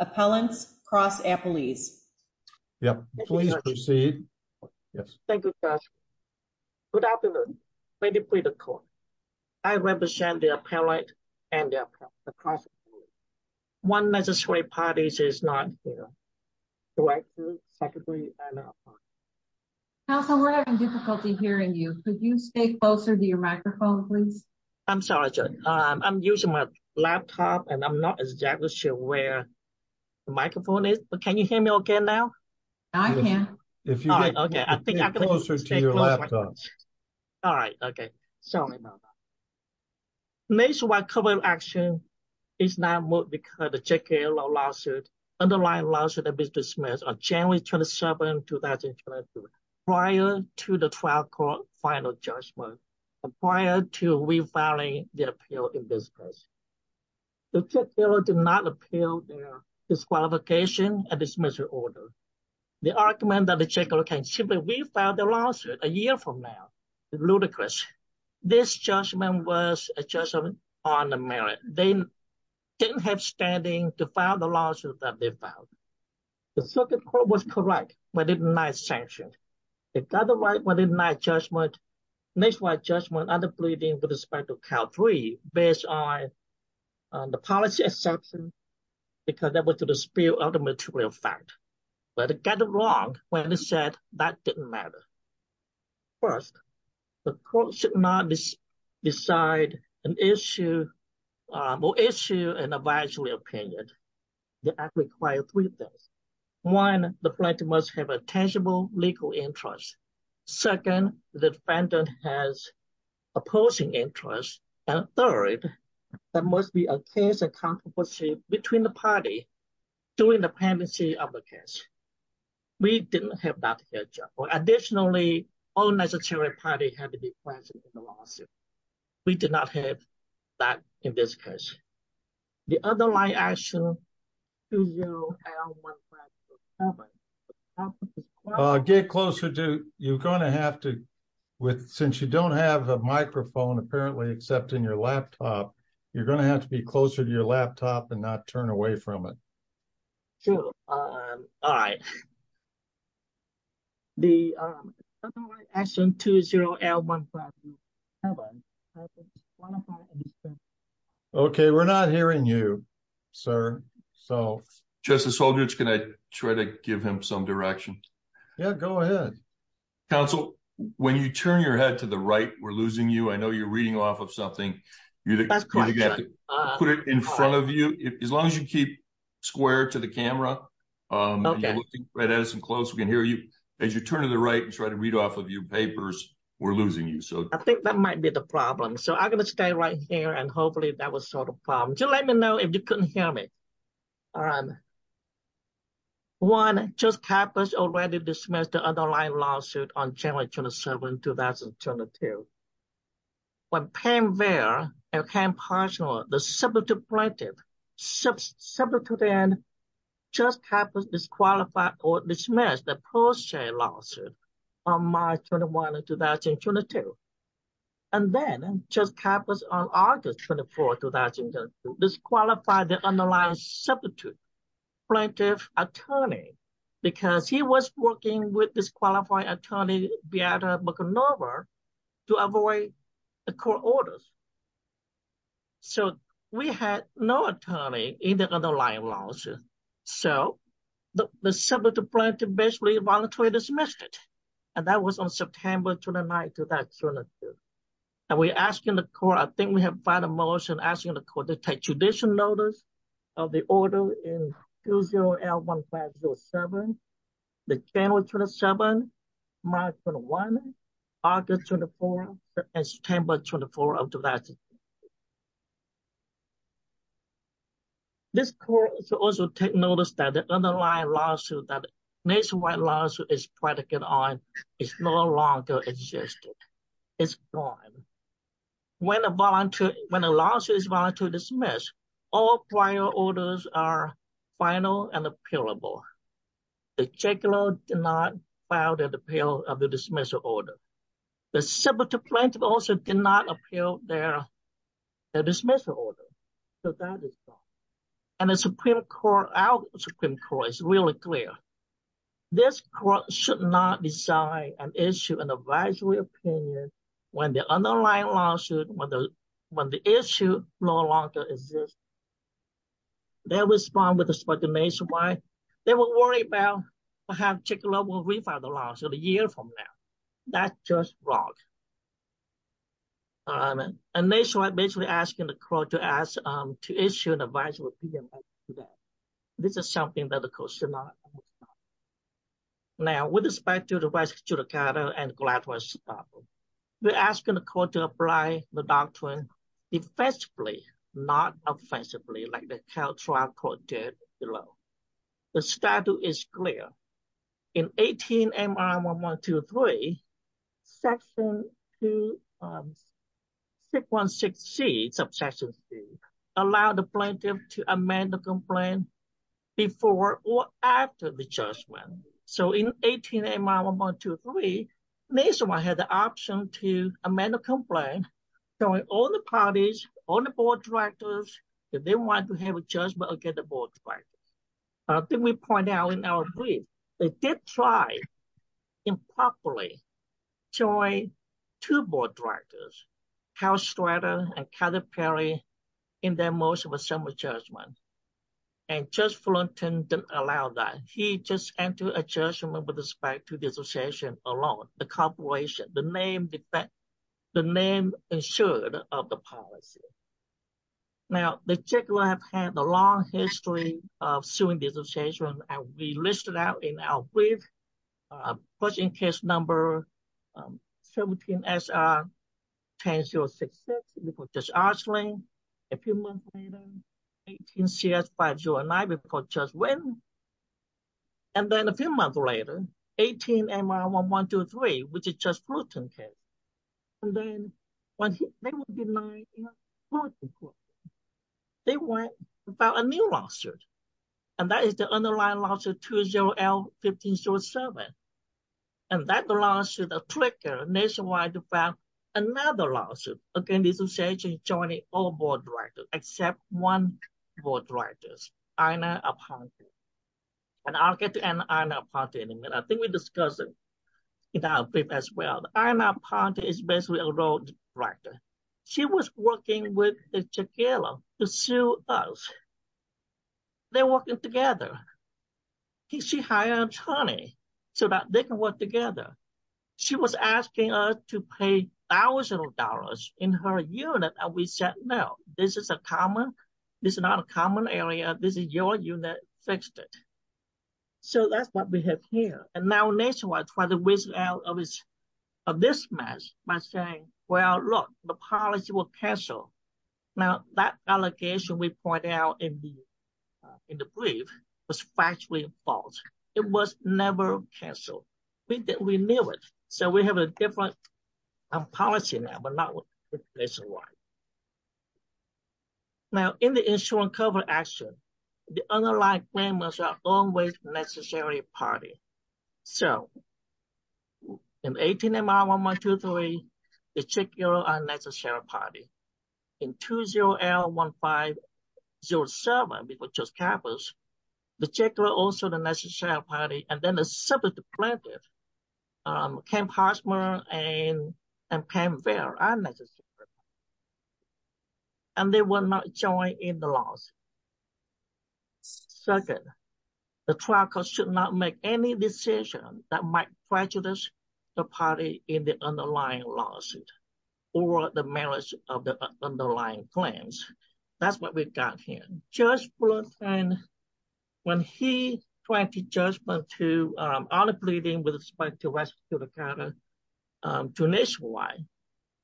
appellants cross-appellees. Please proceed. Thank you, Josh. Good afternoon. Lady Praetor Court. I represent the appellant and the cross-appellee. One necessary parties I represent the appellant and the cross-appellee. One necessary parties Council, we're having difficulty hearing you. Could you stay closer to your microphone, please? I'm sorry, Joy. I'm using my laptop and I'm not exactly sure where the microphone is. Can you hear me okay now? I can. Stay closer to your laptop. All right. Okay. Sorry about that. Nationwide Covenant Action is not moved because of the J. K. Lowe lawsuit. Underlying lawsuit has been dismissed on January 27, 2022 prior to the trial court final judgment prior to refiling the appeal in this case. The J. K. Lowe did not appeal their disqualification and dismissal order. The argument that the J. K. Lowe can simply refile their lawsuit a year from now is ludicrous. This judgment was a judgment on merit. They didn't have standing to file the lawsuit that they filed. The circuit court was correct when it denied sanction. It got it right when it denied judgment, nationwide judgment under bleeding with respect to Cal 3 based on the policy exception because that was to dispel other material fact. But it got it wrong when they said that didn't matter. First, the court should not decide an issue or issue an advisory opinion. The act requires three things. One, the plaintiff must have a tangible legal interest. Second, the defendant has opposing interest. And third, there must be a case of controversy between the party during the pendency of the case. We didn't have that here. Additionally, all necessary parties had to be present in the lawsuit. We did not have that in this case. The other line action 2-0-L-1-5-0-7. Get closer to, you're going to have to, since you don't have a microphone apparently except in your laptop, you're going to have to be closer to your laptop and not turn away from it. All right. The other line action 2-0-L-1-5-0-7. Okay. We're not hearing you, sir. Justice Soldier, can I try to give him some direction? Yeah, go ahead. Counsel, when you turn your head to the right, we're losing you. I know you're reading off of something. You have to put it in front of you. As long as you keep square to the camera and you're looking right at us and close, we can hear you. As you turn to the right and try to read off of your papers, we're losing you. I think that might be the problem. I'm going to stay right here and hopefully that will solve the problem. Just let me know if you couldn't hear me. All right. One, Judge Kappas already dismissed the underlying lawsuit on January 27, 2002. When Pam Vare and Ken Parshall, the substitute plaintiff, substituted in, Judge Kappas disqualified or dismissed the underlying lawsuit on January 27, 2001 and 2022. And then, Judge Kappas on August 24, 2002, disqualified the underlying substitute plaintiff attorney because he was working with disqualified attorney to avoid the court orders. So we had no attorney in the underlying lawsuit. So the substitute plaintiff basically voluntarily dismissed it. And that was on September 29, 2002. And we're asking the court, I think we have final motion, asking the court to take judicial notice of the order in 20L1507, the January 27, March 21, August 24, and September 24 of 2002. This court should also take notice that the underlying lawsuit, that nationwide lawsuit is practically gone, is no longer existing. It's gone. When a lawsuit is voluntarily dismissed, all prior orders are final and appealable. The checker did not file the appeal of the dismissal order. The substitute plaintiff also did not appeal their dismissal order. So that is gone. And the Supreme Court, our Supreme Court, is really clear. This court should not decide an issue in advisory opinion when the underlying lawsuit, when the issue no longer exists. They respond with a speculation why they were worried about perhaps checker will refile the lawsuit a year from now. That's just wrong. And nationwide basically asking the court to issue an advisory opinion on that. This is something that the court should not respond. Now, with respect to the Vice Judicator and Gladwell's problem, we're asking the court to apply the doctrine defensively, not offensively, like the trial court did below. The statute is clear. In 18 MRM1123, section 616C, allow the plaintiff to amend the complaint before or after the judgment. So in 18 MRM123, nationwide has the option to amend the complaint, showing all the parties, all the board directors that they want to have a judgment against the board directors. Then we point out in our brief, they did try improperly showing two board directors, Cal Stratter and Cather Perry, in their motion of assembly judgment. And Judge Fullerton didn't allow that. He just entered a judgment with respect to disassociation alone, the corporation, the name insured of the policy. Now, the judge will have had a long history of suing disassociation, as we listed out in our brief. First in case number 17SR 10066, before Judge Archling. A few months later, 18CS509 before Judge Winn. And then a few months later, 18MR1123, which is Judge Fullerton's case. And then, when they were denied, they went to file a new lawsuit. And that is the underlying lawsuit 20L1507. And that lawsuit triggered nationwide to file another lawsuit against disassociation joining all board directors except one board director, Ina Aponte. And I'll get to Ina Aponte in a minute. I think we discussed it in our brief as well. Ina Aponte is basically a road writer. She was working with the Chagall to sue us. They're working together. She hired an attorney so that they can work together. She was asking us to pay thousands of dollars in her unit, and we said, no, this is a common, this is not a common area. This is your unit. Fix it. So that's what we have here. And now nationwide tried to whiz out of this mess by saying, well, look, the policy will cancel. Now, that allegation we pointed out in the brief was factually false. It was never canceled. We knew it. So we have a different policy now, but not what it looks like. Now, in the insurance cover action, the underlying claimants are always necessary party. So in 18MR 1123, the Chagall are necessary party. In 20L1507, we were just careful, the Chagall are also the necessary party, and then the substitute plaintiff, Kim Hartzberg and Pam Vail are necessary. And they will not join in the lawsuit. Second, the trial court should not make any decision that might prejudice the party in the underlying lawsuit or the merits of the underlying claims. That's what we've got here. Judge Blunton, when he went to judgment on the pleading with respect to the counter to nationwide,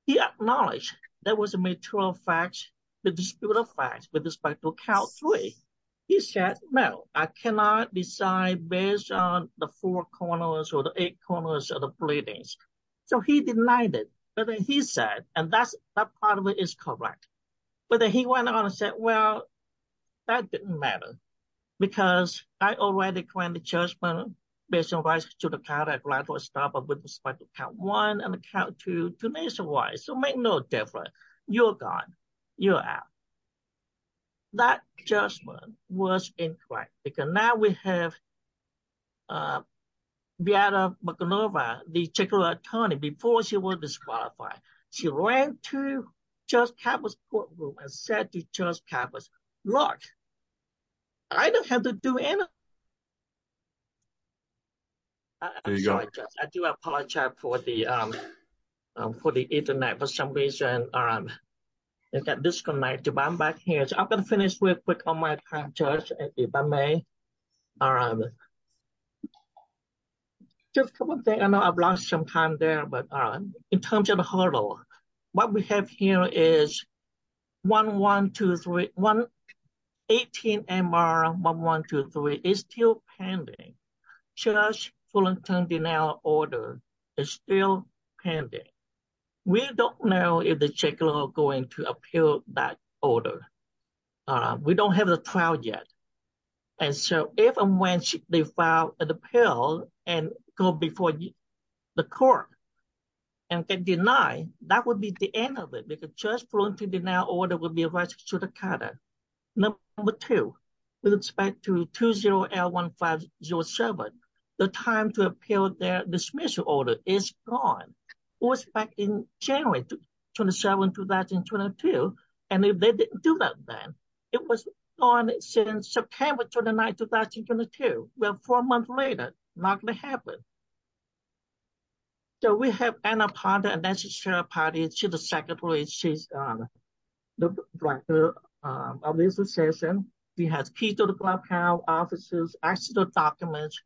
he acknowledged there was a mutual fact, the disputed fact with respect to count three. He said, no, I cannot decide based on the four corners or the eight corners of the pleadings. So he denied it, but then he said, and that part of it is correct. But then he went on and said, well, that didn't matter, because I already claimed the judgment based on rights to the count at count one and count two nationwide, so make no difference. You're gone. You're out. That judgment was incorrect because now we have Beata McInerva, the checker attorney, before she was disqualified. She ran to Judge Cavus' courtroom and said to Judge Cavus, look, I don't have to do anything. I'm sorry, Judge. I do apologize for the internet for some reason. but I'm back here. I'm going to finish real quick on my time, Judge. If I may. Just a couple of things. I know I've lost some time there, but in terms of the hurdle, what we have here is 1123 18MR1123 is still pending. Judge Fullerton denied the order. It's still pending. We don't know if the check law is going to appeal that order. We don't have the trial yet. If and when they file an appeal and go before the court and get denied, that would be the end of it because Judge Fullerton denied the order would be a right to shoot a cutter. Number two, with respect to 20L1507, the time to appeal their dismissal order is gone. It was back in January 27, 2022, and if they didn't do that then, it was gone since September 29, 2022. Well, four months later, not going to happen. So we have Anna Ponder, and that's the chair of the party. She's the secretary. She's the director of the association. She has keys to the Black House offices, access to the documents,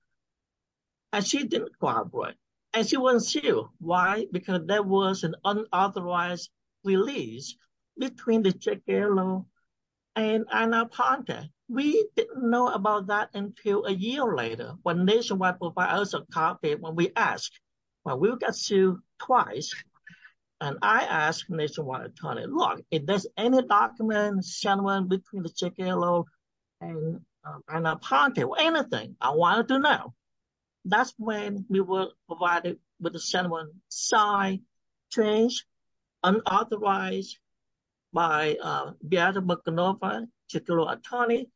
and she didn't cooperate, and she wasn't sued. Why? Because there was an unauthorized release between the J. K. Lo and Anna Ponder. We didn't know about that until a year later when Nationwide provided us a copy when we asked. Well, we got sued twice, and I asked Nationwide attorney, look, if there's any documents, gentlemen, between the J. K. Lo and Anna Ponder or anything, I wanted to know. That's when we were provided with unauthorized by Beate McGillivray, J. K. Lo attorney,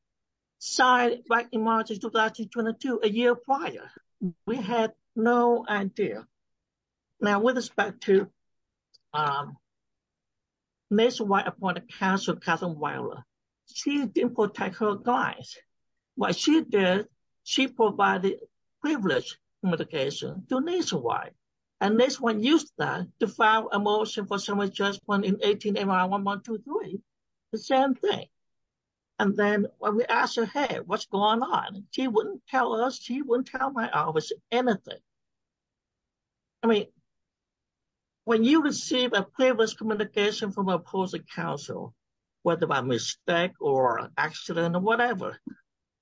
signed back in March of 2022, a year prior. We had no idea. Now with respect to Nationwide appointed counsel Katherine Weiler, she didn't protect her guys. What she did, she provided privileged communication to Nationwide, and Nationwide used that to file a motion for someone's judgment in 18 MI 1123, the same thing. And then when we asked her, hey, what's going on? She wouldn't tell us. She wouldn't tell my office anything. I mean, when you receive a privileged communication from an opposing counsel, whether by mistake or accident or whatever,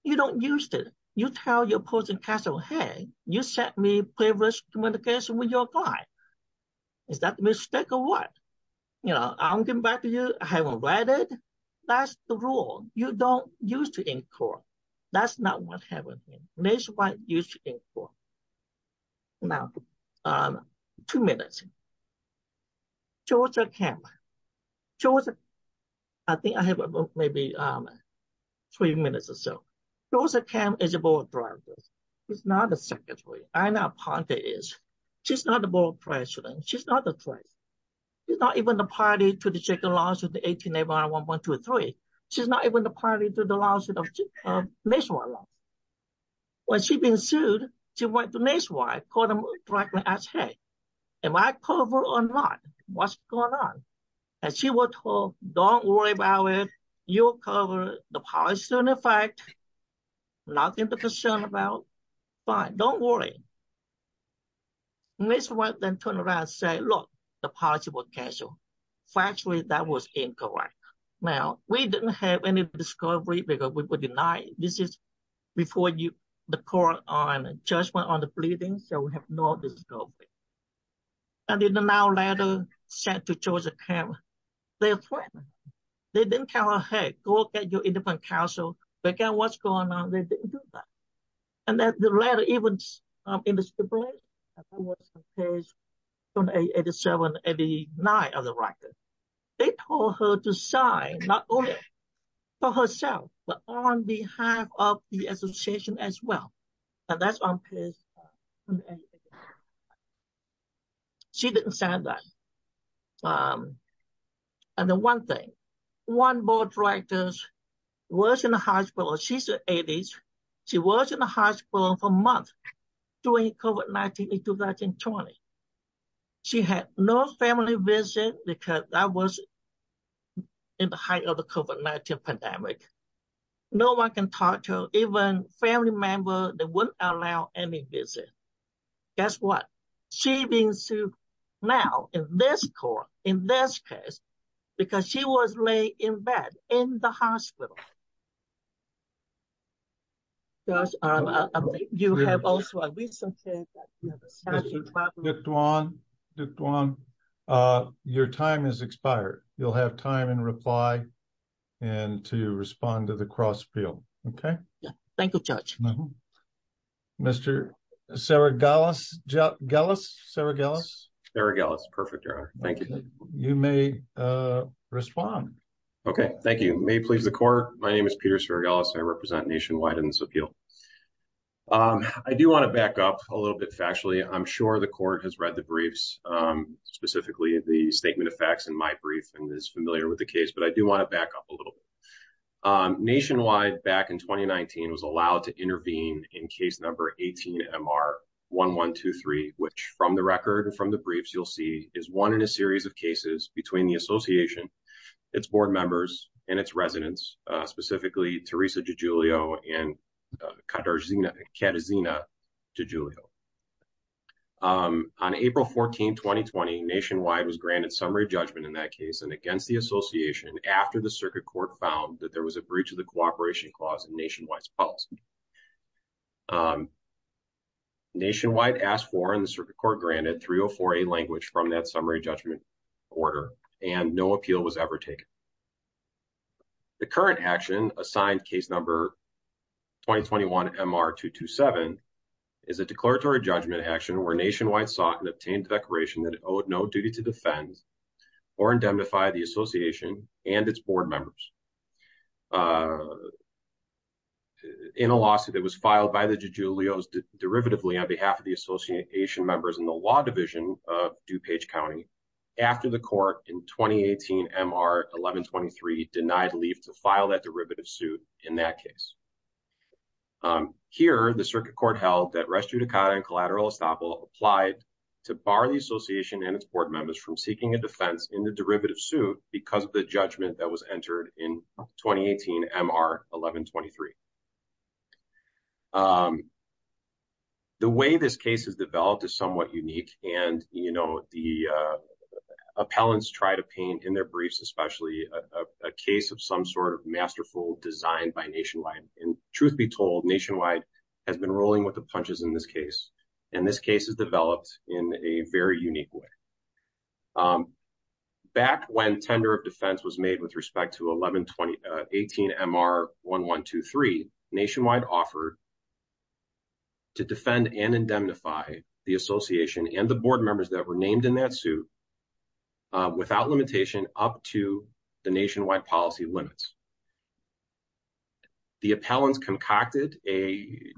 you don't use it. You tell your opposing counsel, hey, you sent me privileged communication with your guy. Is that a mistake or what? You know, I'm giving back to you. I haven't read it. That's the rule. You don't use it in court. That's not what happened. Nationwide used it in court. Now, two minutes. Georgia camp. Georgia I think I have maybe three minutes or so. Georgia camp is about the political. It's not a secretary. She's not a president. She's not the president. She's not even the party to the 18 MI 123. She's not even the party to the nationwide law. When she'd been sued, she went to nationwide, called them, asked, hey, am I covered or not? What's going on? And she would tell them, don't worry about it. You're covered. The policy is in effect. Nothing to be concerned about. Don't worry. Ms. White then turned around and said, look, the policy was canceled. Factually, that was incorrect. Now, we didn't have any discovery because we were denied. This is before the court on judgment on the pleadings, so we have no discovery. And in an hour later, sent to Georgia camp, they're threatened. They didn't tell her, hey, go get your independent counsel. They don't care what's going on. They didn't do that. And the letter even was published on page 288789 of the record. They told her to sign, not only for herself, but on behalf of the association as well. And that's on page 288789. She didn't sign that. And the one thing, one board director was in the hospital. She's in her 80s. She was in the hospital for a month during COVID-19 in 2020. She had no family visit because that was in the height of the COVID-19 pandemic. No one can talk to her. Even family members, they wouldn't allow any visit. Guess what? She's being sued now in this court, in this case because she was laid in bed in the hospital. Josh, you have also a recent question. Duong, your time has expired. You'll have time in reply to respond to the cross appeal. Okay? Thank you, Judge. Mr. Saragalas? Saragalas? Saragalas. Perfect, Your Honor. Thank you. You may respond. Okay. Thank you. May it please the court, my name is Peter Saragalas. I represent Nationwide in this appeal. I do want to back up a little bit factually. I'm sure the court has read the briefs, specifically the statement of facts in my brief and is familiar with the case, but I do want to back up a little bit. Nationwide back in 2019 was allowed to intervene in case number 18-MR-1123 which from the record and from the briefs you'll see is one in a series of cases between the association, its board members, and its residents specifically Teresa DiGiulio and Katazina DiGiulio. On April 14, 2020, Nationwide was granted summary judgment in that case and against the association after the circuit court found that there was a breach of the agreement. Nationwide asked for and the circuit court granted 304A language from that summary judgment order and no appeal was ever taken. The current action assigned case number 2021-MR-227 is a declaratory judgment action where Nationwide sought and obtained a declaration that it owed no duty to defend or indemnify the association and its board members. In a lawsuit that was filed by the DiGiulios derivatively on behalf of the association members in the law division of DuPage County, after the court in 2018-MR-1123 denied leave to file that derivative suit in that case. Here, the circuit court held that Res Judicata and Collateral Estoppel applied to bar the association and its board members from seeking a defense in the derivative suit because of the judgment that was entered in 2018-MR-1123. The way this case is developed is somewhat unique and the appellants try to paint in their briefs especially a case of some sort of masterful design by Nationwide. Truth be told, Nationwide has been rolling with the punches in this case and this case is developed in a very unique way. Back when the tender of defense was made with respect to 2018-MR-1123, Nationwide offered to defend and indemnify the association and the board members that were named in that suit without limitation up to the Nationwide policy limits. The appellants concocted a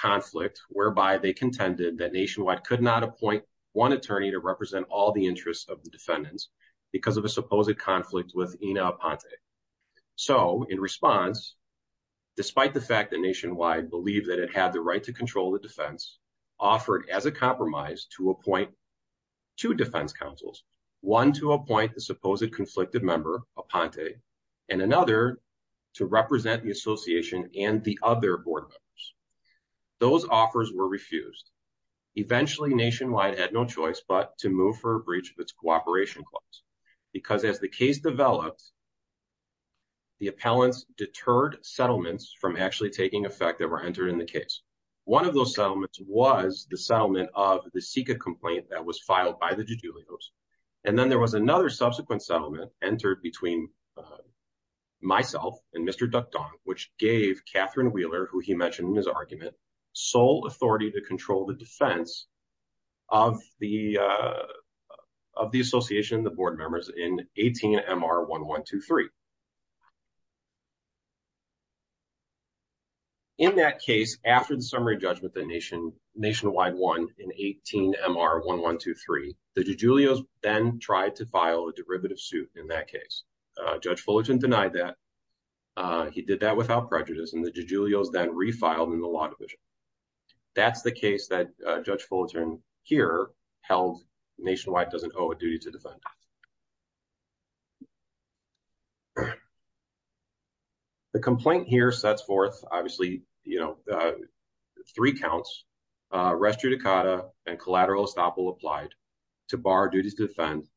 conflict whereby they contended that Nationwide could not appoint one attorney to represent all the interests of the defendants because of a supposed conflict with Ina Aponte. So, in response, despite the fact that Nationwide believed that it had the right to control the defense, offered as a compromise to appoint two defense counsels, one to appoint the supposed conflicted member, Aponte, and another to represent the association and the other board members. Those offers were refused. Eventually, Nationwide had no choice but to move for a breach of its cooperation clause because as the case developed, the appellants deterred settlements from actually taking effect that were entered in the case. One of those settlements was the settlement of the SICA complaint that was filed by the de Julio's, and then there was another subsequent settlement entered between myself and Mr. Ducton, which gave Catherine Wheeler, who he mentioned in his argument, sole authority to control the defense of the association and the board members in 18-MR-1123. In that case, after the summary judgment that Nationwide won in 18-MR-1123, the de Julio's then tried to file a derivative suit in that case. Judge Fullerton denied that. He did that without prejudice, and the de Julio's then refiled in the law division. That's the case that Judge Fullerton here held Nationwide doesn't owe a duty to defend. The complaint here sets forth, obviously, you know, three counts, res judicata and collateral estoppel applied to bar duties to defend.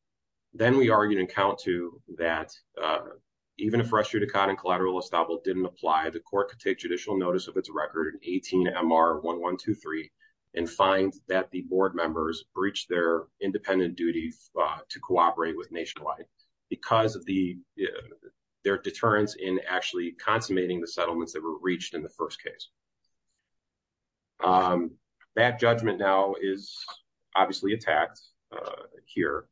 Then we argued in count two that even if res judicata and collateral estoppel didn't apply, the court could take judicial notice of its record in 18-MR-1123 and find that the board members breached their independent duty to cooperate with Nationwide because of their deterrence in actually consummating the settlements that were reached in the first case. That judgment now is obviously attacked here.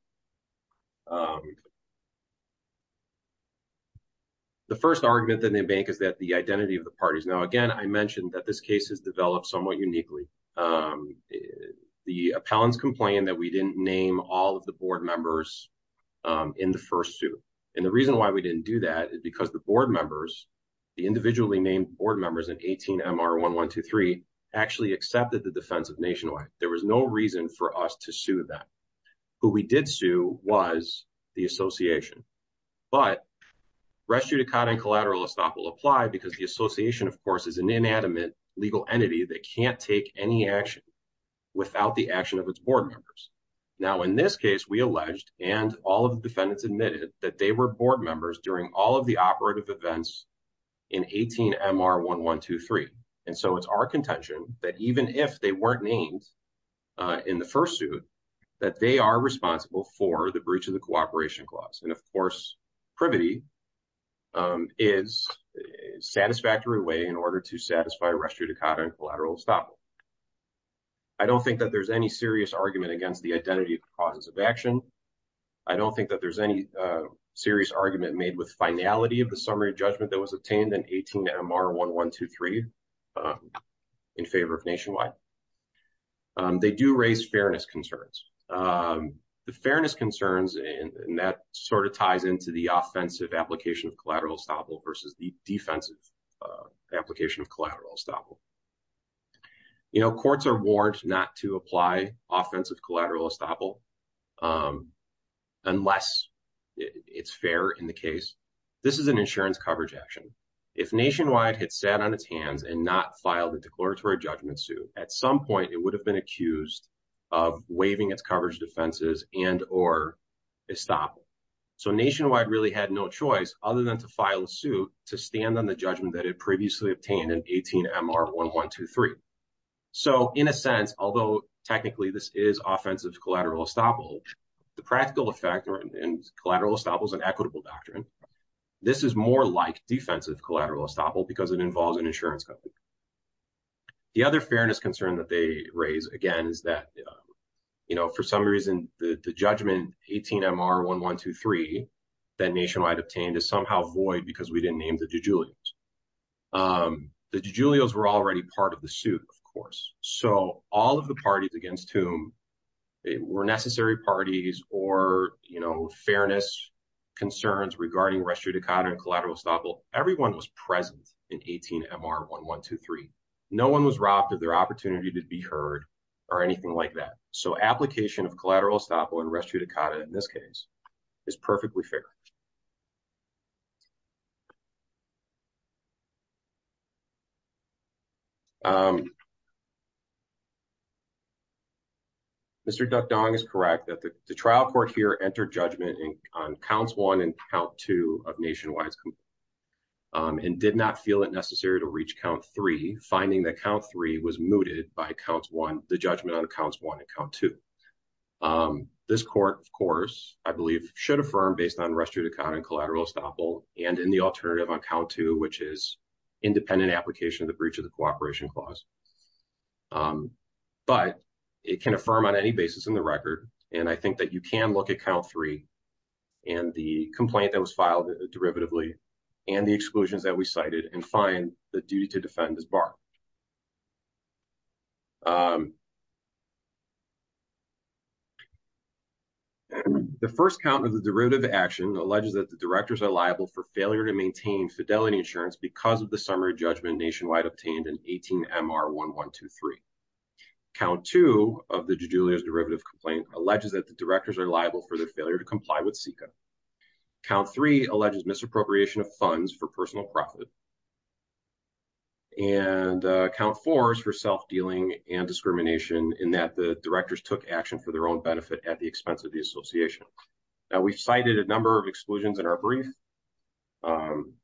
The first argument that they make is that the identity of the parties. Now, again, I mentioned that this case is developed somewhat uniquely. The appellants complained that we didn't name all of the board members in the first suit. And the reason why we didn't do that is because the board members, the individually named board members in 18-MR-1123 actually accepted the defense of Nationwide. There was no reason for us to sue them. Who we did sue was the Association. But rest judicata and collateral estoppel apply because the Association of course is an inanimate legal entity that can't take any action without the action of its board members. Now, in this case, we alleged and all of the defendants admitted that they were board members during all of the operative events in 18-MR-1123. And so it's our contention that even if they weren't named in the first suit that they are responsible for the breach of the cooperation clause. And of course privity is a satisfactory way in order to satisfy rest judicata and collateral estoppel. I don't think that there's any serious argument against the identity of the causes of action. I don't think that there's any serious argument made with finality of the summary of judgment that was obtained in 18-MR-1123 in favor of Nationwide. They do raise fairness concerns. The fairness concerns and that sort of ties into the offensive application of collateral estoppel versus the defensive application of collateral estoppel. You know, courts are warned not to apply offensive collateral estoppel unless it's fair in the case. This is an insurance coverage action. If Nationwide had sat on its hands and not filed a declaratory judgment suit, at some point it would have been accused of waiving its coverage defenses and or estoppel. So Nationwide really had no choice other than to file a suit to stand on the judgment that it previously obtained in 18-MR-1123. So in a sense, although technically this is offensive collateral estoppel, the practical effect in collateral estoppel is an equitable doctrine. This is more like defensive collateral estoppel because it involves an insurance coverage. The other fairness concern that they raise again is that for some reason the judgment 18-MR-1123 that Nationwide obtained is somehow void because we didn't name the de Julios. The de Julios were already part of the suit, of course. So all of the parties against whom were necessary parties or fairness concerns regarding res judicata and collateral estoppel, everyone was present in 18-MR-1123. No one was robbed of their opportunity to be heard or anything like that. So application of collateral estoppel and res judicata in this case is perfectly fair. Mr. Duckdong is correct that the trial court here entered the judgment on counts one and count two of Nationwide's complaint and did not feel it necessary to reach count three, finding that count three was mooted by the judgment on counts one and count two. This court, of course, I believe should affirm based on res judicata and collateral estoppel and in the alternative on count two which is independent application of the breach of the cooperation clause. But it can affirm on any basis in the record and I think that you can look at count three and the complaint that was filed derivatively and the exclusions that we cited and find the duty to defend is barred. The first count of the derivative action alleges that the directors are liable for failure to maintain fidelity insurance because of the summary judgment nationwide obtained in 18-MR-1123. Count two of the Jujulio's derivative complaint alleges that the directors are liable for their failure to comply with CICA. Count three alleges misappropriation of funds for personal profit and count four is for self-dealing and discrimination in that the directors took action for their own benefit at the expense of the association. We've cited a number of exclusions in our brief.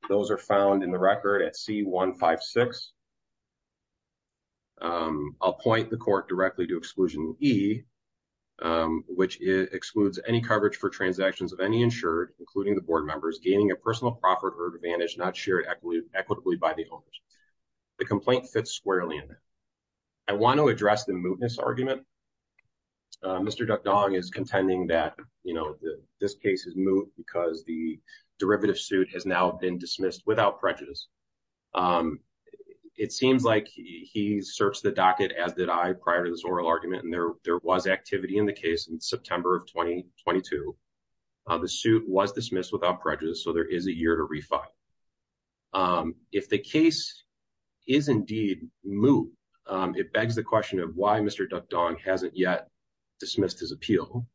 Those are found in the record at C-156. I'll point the court directly to exclusion E, which excludes any coverage for transactions of any insured, including the board members gaining a personal profit or advantage not shared equitably by the owners. The complaint fits squarely in there. I want to address the mootness argument. Mr. Duckdong is contending that this case is moot because the derivative suit has now been dismissed without prejudice. It seems like he searched the docket as did I prior to this oral argument and there was activity in the case in September of 2022. The suit was dismissed without prejudice, so there is a year to refile. If the case is indeed moot, it begs the question of why Mr. Duckdong hasn't yet dismissed his appeal.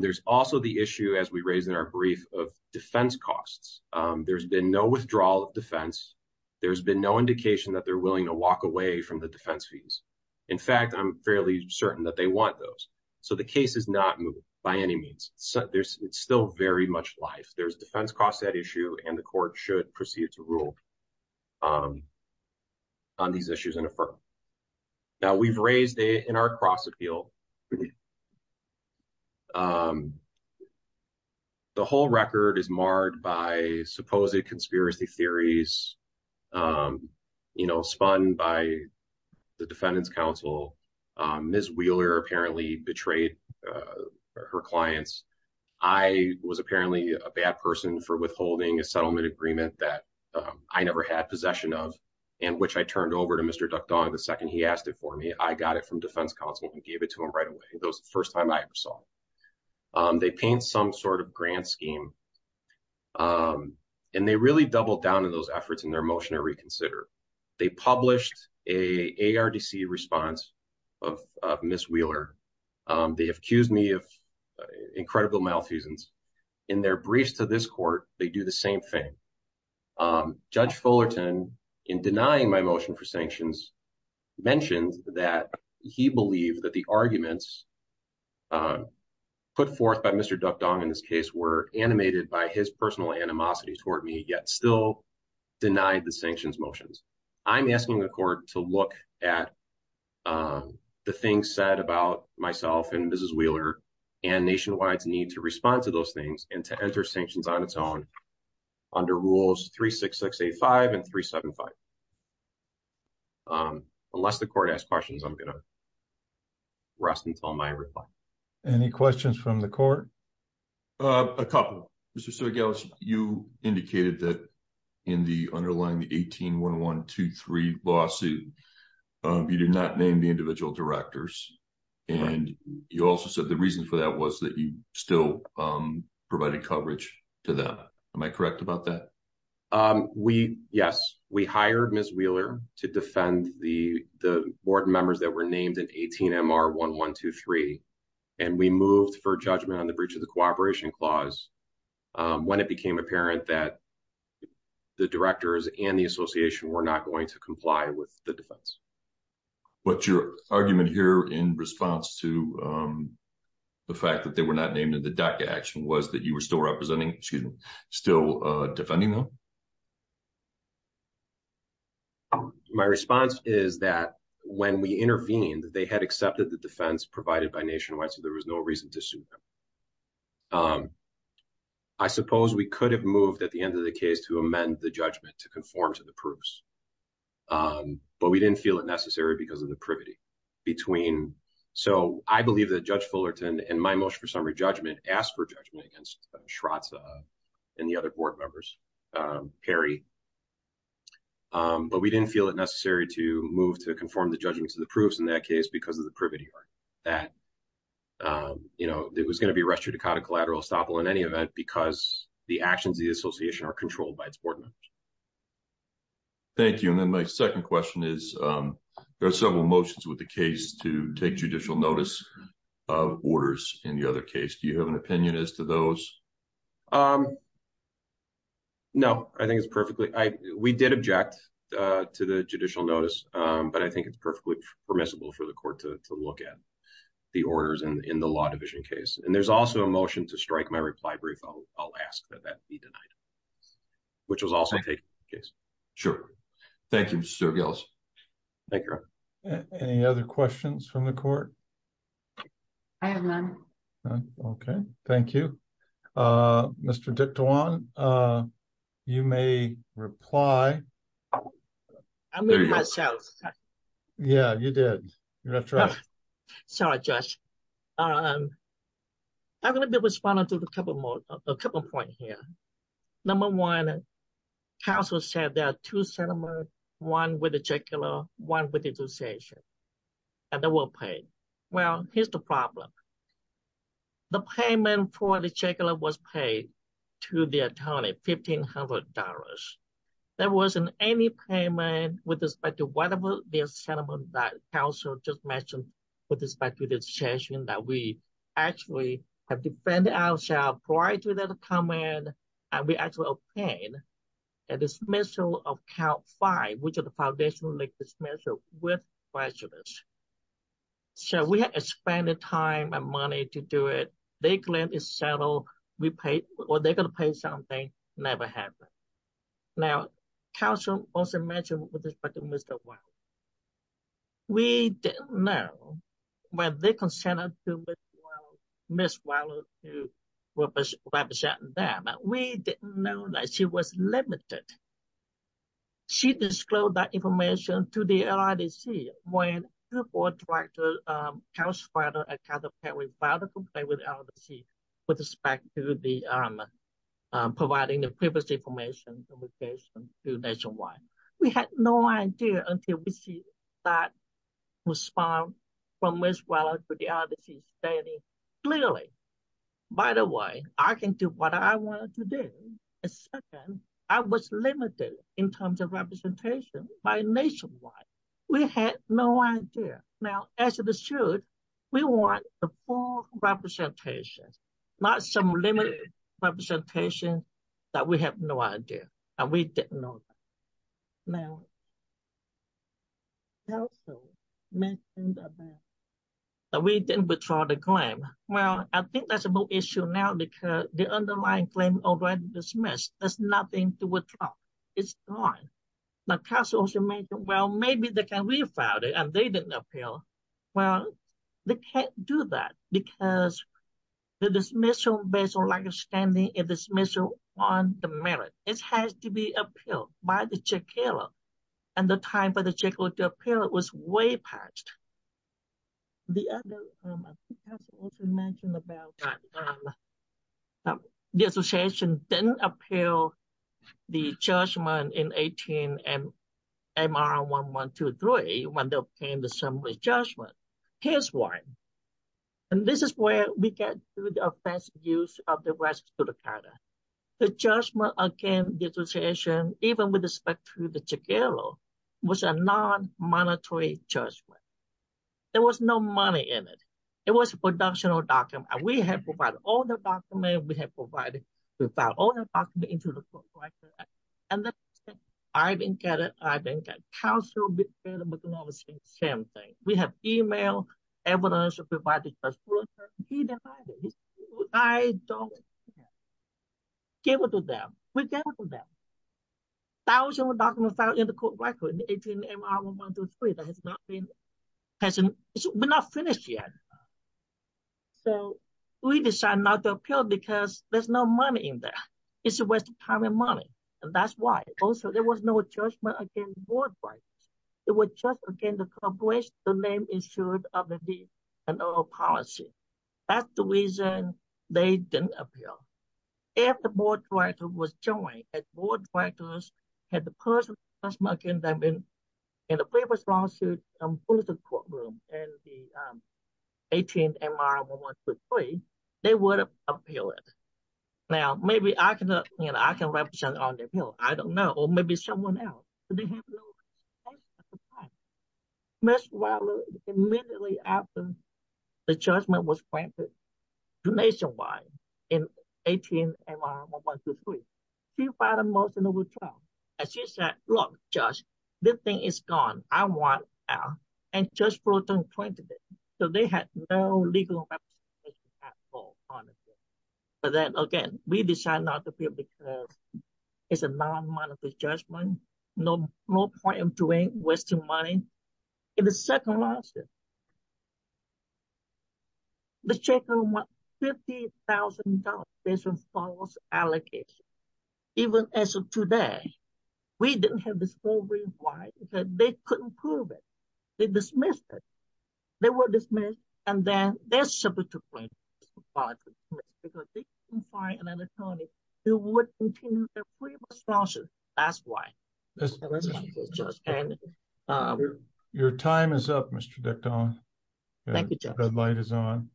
There's also the issue, as we raised in our brief, of defense costs. There's been no withdrawal of defense. There's been no indication that they're willing to walk away from the defense fees. In fact, I'm fairly certain that they want those. So the case is not moot by any means. It's still very much life. There's defense costs to that issue and the court should proceed to rule on these issues and affirm. Now, we've raised in our cross-appeal the whole record is marred by supposed conspiracy theories spun by the defendant's counsel. Ms. Wheeler apparently betrayed her clients. I was apparently a bad person for withholding a settlement agreement that I never had possession of and which I turned over to Mr. Duckdong the second he asked it for me. I got it from defense counsel and gave it to him right away. That was the first time I ever saw it. They paint some sort of grand scheme and they really doubled down on those efforts in their motion to reconsider. They published an ARDC response of Ms. Wheeler. They accused me of incredible malfeasance. In their briefs to this court, they do the same thing. Judge Fullerton, in denying my motion for sanctions, mentioned that he believed that the arguments put forth by Mr. Duckdong in this case were animated by his personal animosity toward me, yet still denied the sanctions motions. I'm asking the court to look at the things said about myself and Ms. Wheeler and Nationwide's need to respond to those things and to enter sanctions on its own under rules 36685 and 375. Unless the court asks questions, I'm going to rest until my reply. Any questions from the court? A couple. Mr. Sergelich, you indicated that in the underlying 18-1123 lawsuit, you did not name the individual directors. You also said the reason for that was that you still provided coverage to them. Am I correct about that? Yes. We hired Ms. Wheeler to defend the board members that were named in 18-MR-1123 and we moved for judgment on the breach of the Cooperation Clause when it became apparent that the directors and the association were not going to comply with the defense. What's your argument here in response to the fact that they were not named in the DACA action was that you were still defending them? My response is that when we intervened, they had accepted the defense provided by Nationwide, so there was no reason to sue them. I suppose we could have moved at the end of the case to amend the judgment to conform to the proofs, but we didn't feel it necessary because of the privity between... I believe that Judge Fullerton, in my motion for summary judgment, asked for judgment against Shratza and the other board members, Perry, but we didn't feel it necessary to move to conform the judgment to the proofs in that case because of the privity that it was going to be a restricted collateral estoppel in any event because the actions of the association are controlled by its board members. Thank you. And then my second question is there are several motions with the case to take judicial notice of orders in the other case. Do you have an opinion as to those? No, I think it's perfectly... We did object to the judicial notice, but I think it's perfectly permissible for the court to look at the orders in the Law Division case, and there's also a motion to strike my reply brief. I'll ask that that be denied, which was also taken in the case. Sure. Thank you, Mr. Gilles. Thank you. Any other questions from the court? I have none. Okay. Thank you. Mr. Dicton, you may reply. I mean myself. Yeah, you did. Sorry, Judge. I'm going to be responding to a couple of points here. Number one, counsel said there are two sentiments, one with the jugular, one with the association, and they were paid. Well, here's the problem. The payment for the jugular was paid to the attorney, $1,500. There wasn't any payment with respect to whatever the sentiment that counsel just mentioned with respect to the association that we actually have defended ourselves prior to that comment, and we actually obtained a dismissal of count five, which is the jugular. So we had to spend the time and money to do it. They claimed it's settled. They're going to pay something. Never happened. Now, counsel also mentioned with respect to Mr. Wilder. We didn't know whether they consented to Ms. Wilder representing them. We didn't know that she was limited. She disclosed that information to the LIDC when the board tried to counsel with LIDC with respect to providing the privacy information to nationwide. We had no idea until we see that response from Ms. Wilder to the LIDC stating clearly, by the way, I can do what I want to do. Second, I was limited in terms of representation by nationwide. We had no idea. Now, as it should, we want a full representation, not some limited representation that we have no idea, and we didn't know that. Now, counsel mentioned that we didn't withdraw the claim. Well, I think that's a more issue now because the underlying claim already dismissed. There's nothing to withdraw. It's gone. Now, counsel also mentioned, well, maybe they can refile it and they didn't appeal. Well, they can't do that because the dismissal based on lack of standing and dismissal on the merit. It has to be appealed by the check-healer, and the time for the check-healer to appeal it was way past. The other, I think counsel also mentioned about the association didn't appeal the judgment in 18 MR 1123 when they obtained the summary judgment. Here's why. This is where we get to the offensive use of the rights to the credit. The judgment against the association even with respect to the check-healer was a non-monetary judgment. There was no money in it. It was a production document. We have provided all the documents. We have filed all the documents into the court record. I think counsel said the same thing. We have email evidence provided by the judge. I don't care. Give it to them. We give it to them. Thousands of documents filed in the court record in 18 MR 1123 that has not been finished yet. We decide not to appeal because there's no money in there. It's a waste of time and money. That's why. Also, there was no judgment against the board of directors. It was just against the corporation the name issued of the policy. That's the reason they didn't appeal. If the board of directors was joined, the board of directors had the person in the paper in the 18 MR 1123, they would have appealed it. Maybe I can represent on the appeal. I don't know. Or maybe someone else. Ms. Wilder, immediately after the judgment was granted to Nationwide in 18 MR 1123, she filed a motion to withdraw. She said, look, Judge, this thing is gone. I want out. And Judge Fulton granted it. So they had no legal representation at all on it. But then again, we decide not to appeal because it's a non-monetary judgment, no point of doing, wasting money. In the second lawsuit, the chairman won $50,000 based on false allegations. Even as today, we didn't have this whole reason why. It's that they couldn't prove it. They dismissed it. They were dismissed and then they're supposed to pay $50,000 because they didn't find an attorney who would continue their previous lawsuit. That's why. Your time is up, Mr. Decton. Thank you, Judge. The red light is on.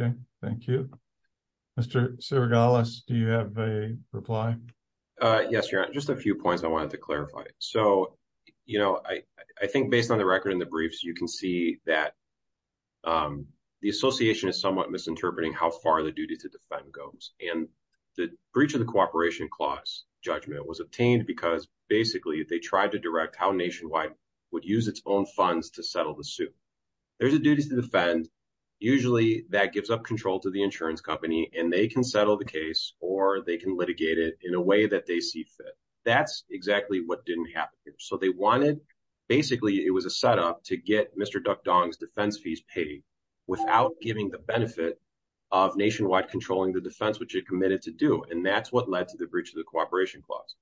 Okay. Thank you. Mr. Sergalis, do you have a reply? Yes, Your Honor. Just a few points I wanted to clarify. I think based on the record in the briefs, you can see that the association is somewhat misinterpreting how far the duty to defend goes. The breach of the cooperation clause judgment was obtained because basically, they tried to direct how Nationwide would use its own funds to settle the suit. There's a duty to defend. Usually, that gives up control to the insurance company. They can settle the case or they can litigate it in a way that they see fit. That's exactly what didn't happen here. They wanted, basically, it was a setup to get Mr. Decton's defense fees paid without giving the benefit of Nationwide controlling the defense, which it committed to do. That's what led to the breach of the cooperation clause.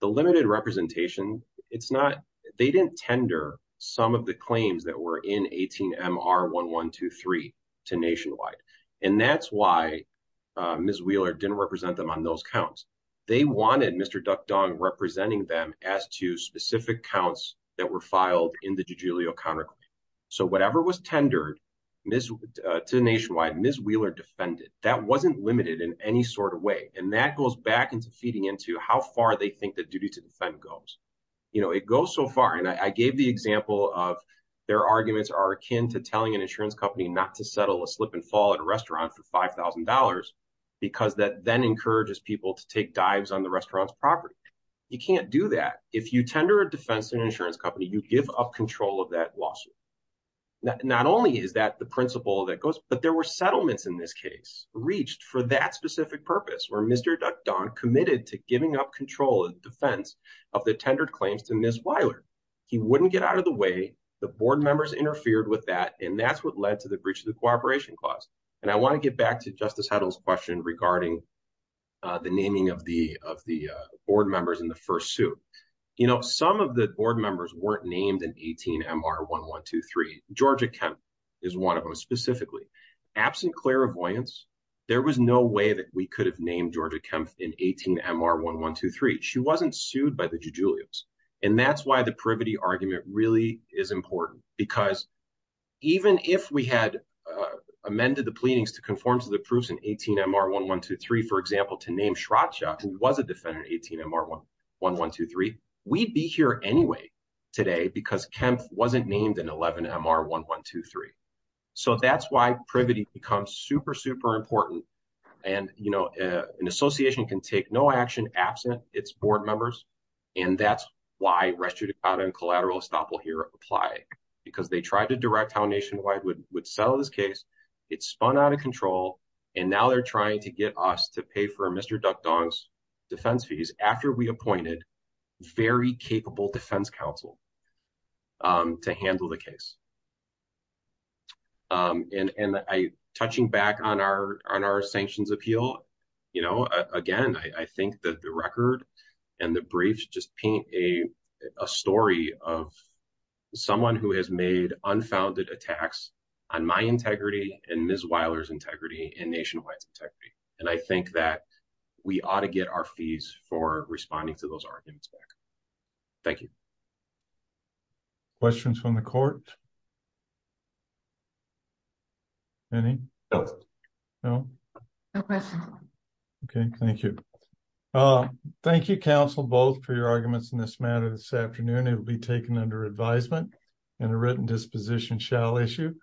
The limited representation, they didn't tender some of the claims that were in 18MR 1123 to Ms. Wheeler didn't represent them on those counts. They wanted Mr. Decton representing them as to specific counts that were filed in the Jujulio counterclaim. Whatever was tendered to Nationwide, Ms. Wheeler defended. That wasn't limited in any sort of way. That goes back into feeding into how far they think the duty to defend goes. It goes so far. I gave the example of their arguments are akin to telling an insurance company not to settle a slip and fall at a restaurant for $5,000 because that then encourages people to take dives on the restaurant's property. You can't do that. If you tender a defense to an insurance company, you give up control of that lawsuit. Not only is that the principle that goes, but there were settlements in this case reached for that specific purpose where Mr. Decton committed to giving up control of the defense of the tendered claims to Ms. Wheeler. He wouldn't get out of the way. The board members interfered with that, and that's what led to the breach of the cooperation clause. I want to get back to Justice Heddle's question regarding the naming of the board members in the first suit. Some of the board members weren't named in 18 MR 1123. Georgia Kempf is one of them, specifically. Absent clairvoyance, there was no way that we could have named Georgia Kempf in 18 MR 1123. She wasn't sued by the Jujulios. That's why the privity argument really is important because even if we had amended the pleadings to conform to the proofs in 18 MR 1123, for example, to name Shratcha, who was a defendant in 18 MR 1123, we'd be here anyway today because Kempf wasn't named in 11 MR 1123. That's why privity becomes super, super important. An association can take no action absent its board members, and that's why restitution and collateral estoppel here apply because they tried to direct how Nationwide would settle this case. It spun out of control, and now they're trying to get us to pay for Mr. Duckdong's defense fees after we appointed very capable defense counsel to handle the case. Touching back on our sanctions appeal, again, I think that the record and the briefs just paint a story of someone who has made unfounded attacks on my integrity and Ms. Weiler's integrity and Nationwide's integrity, and I think that we ought to get our fees for responding to those arguments back. Thank you. Questions from the court? Any? No? Okay, thank you. Thank you, counsel, both for your arguments in this matter this afternoon. It will be taken under advisement and a written disposition shall issue.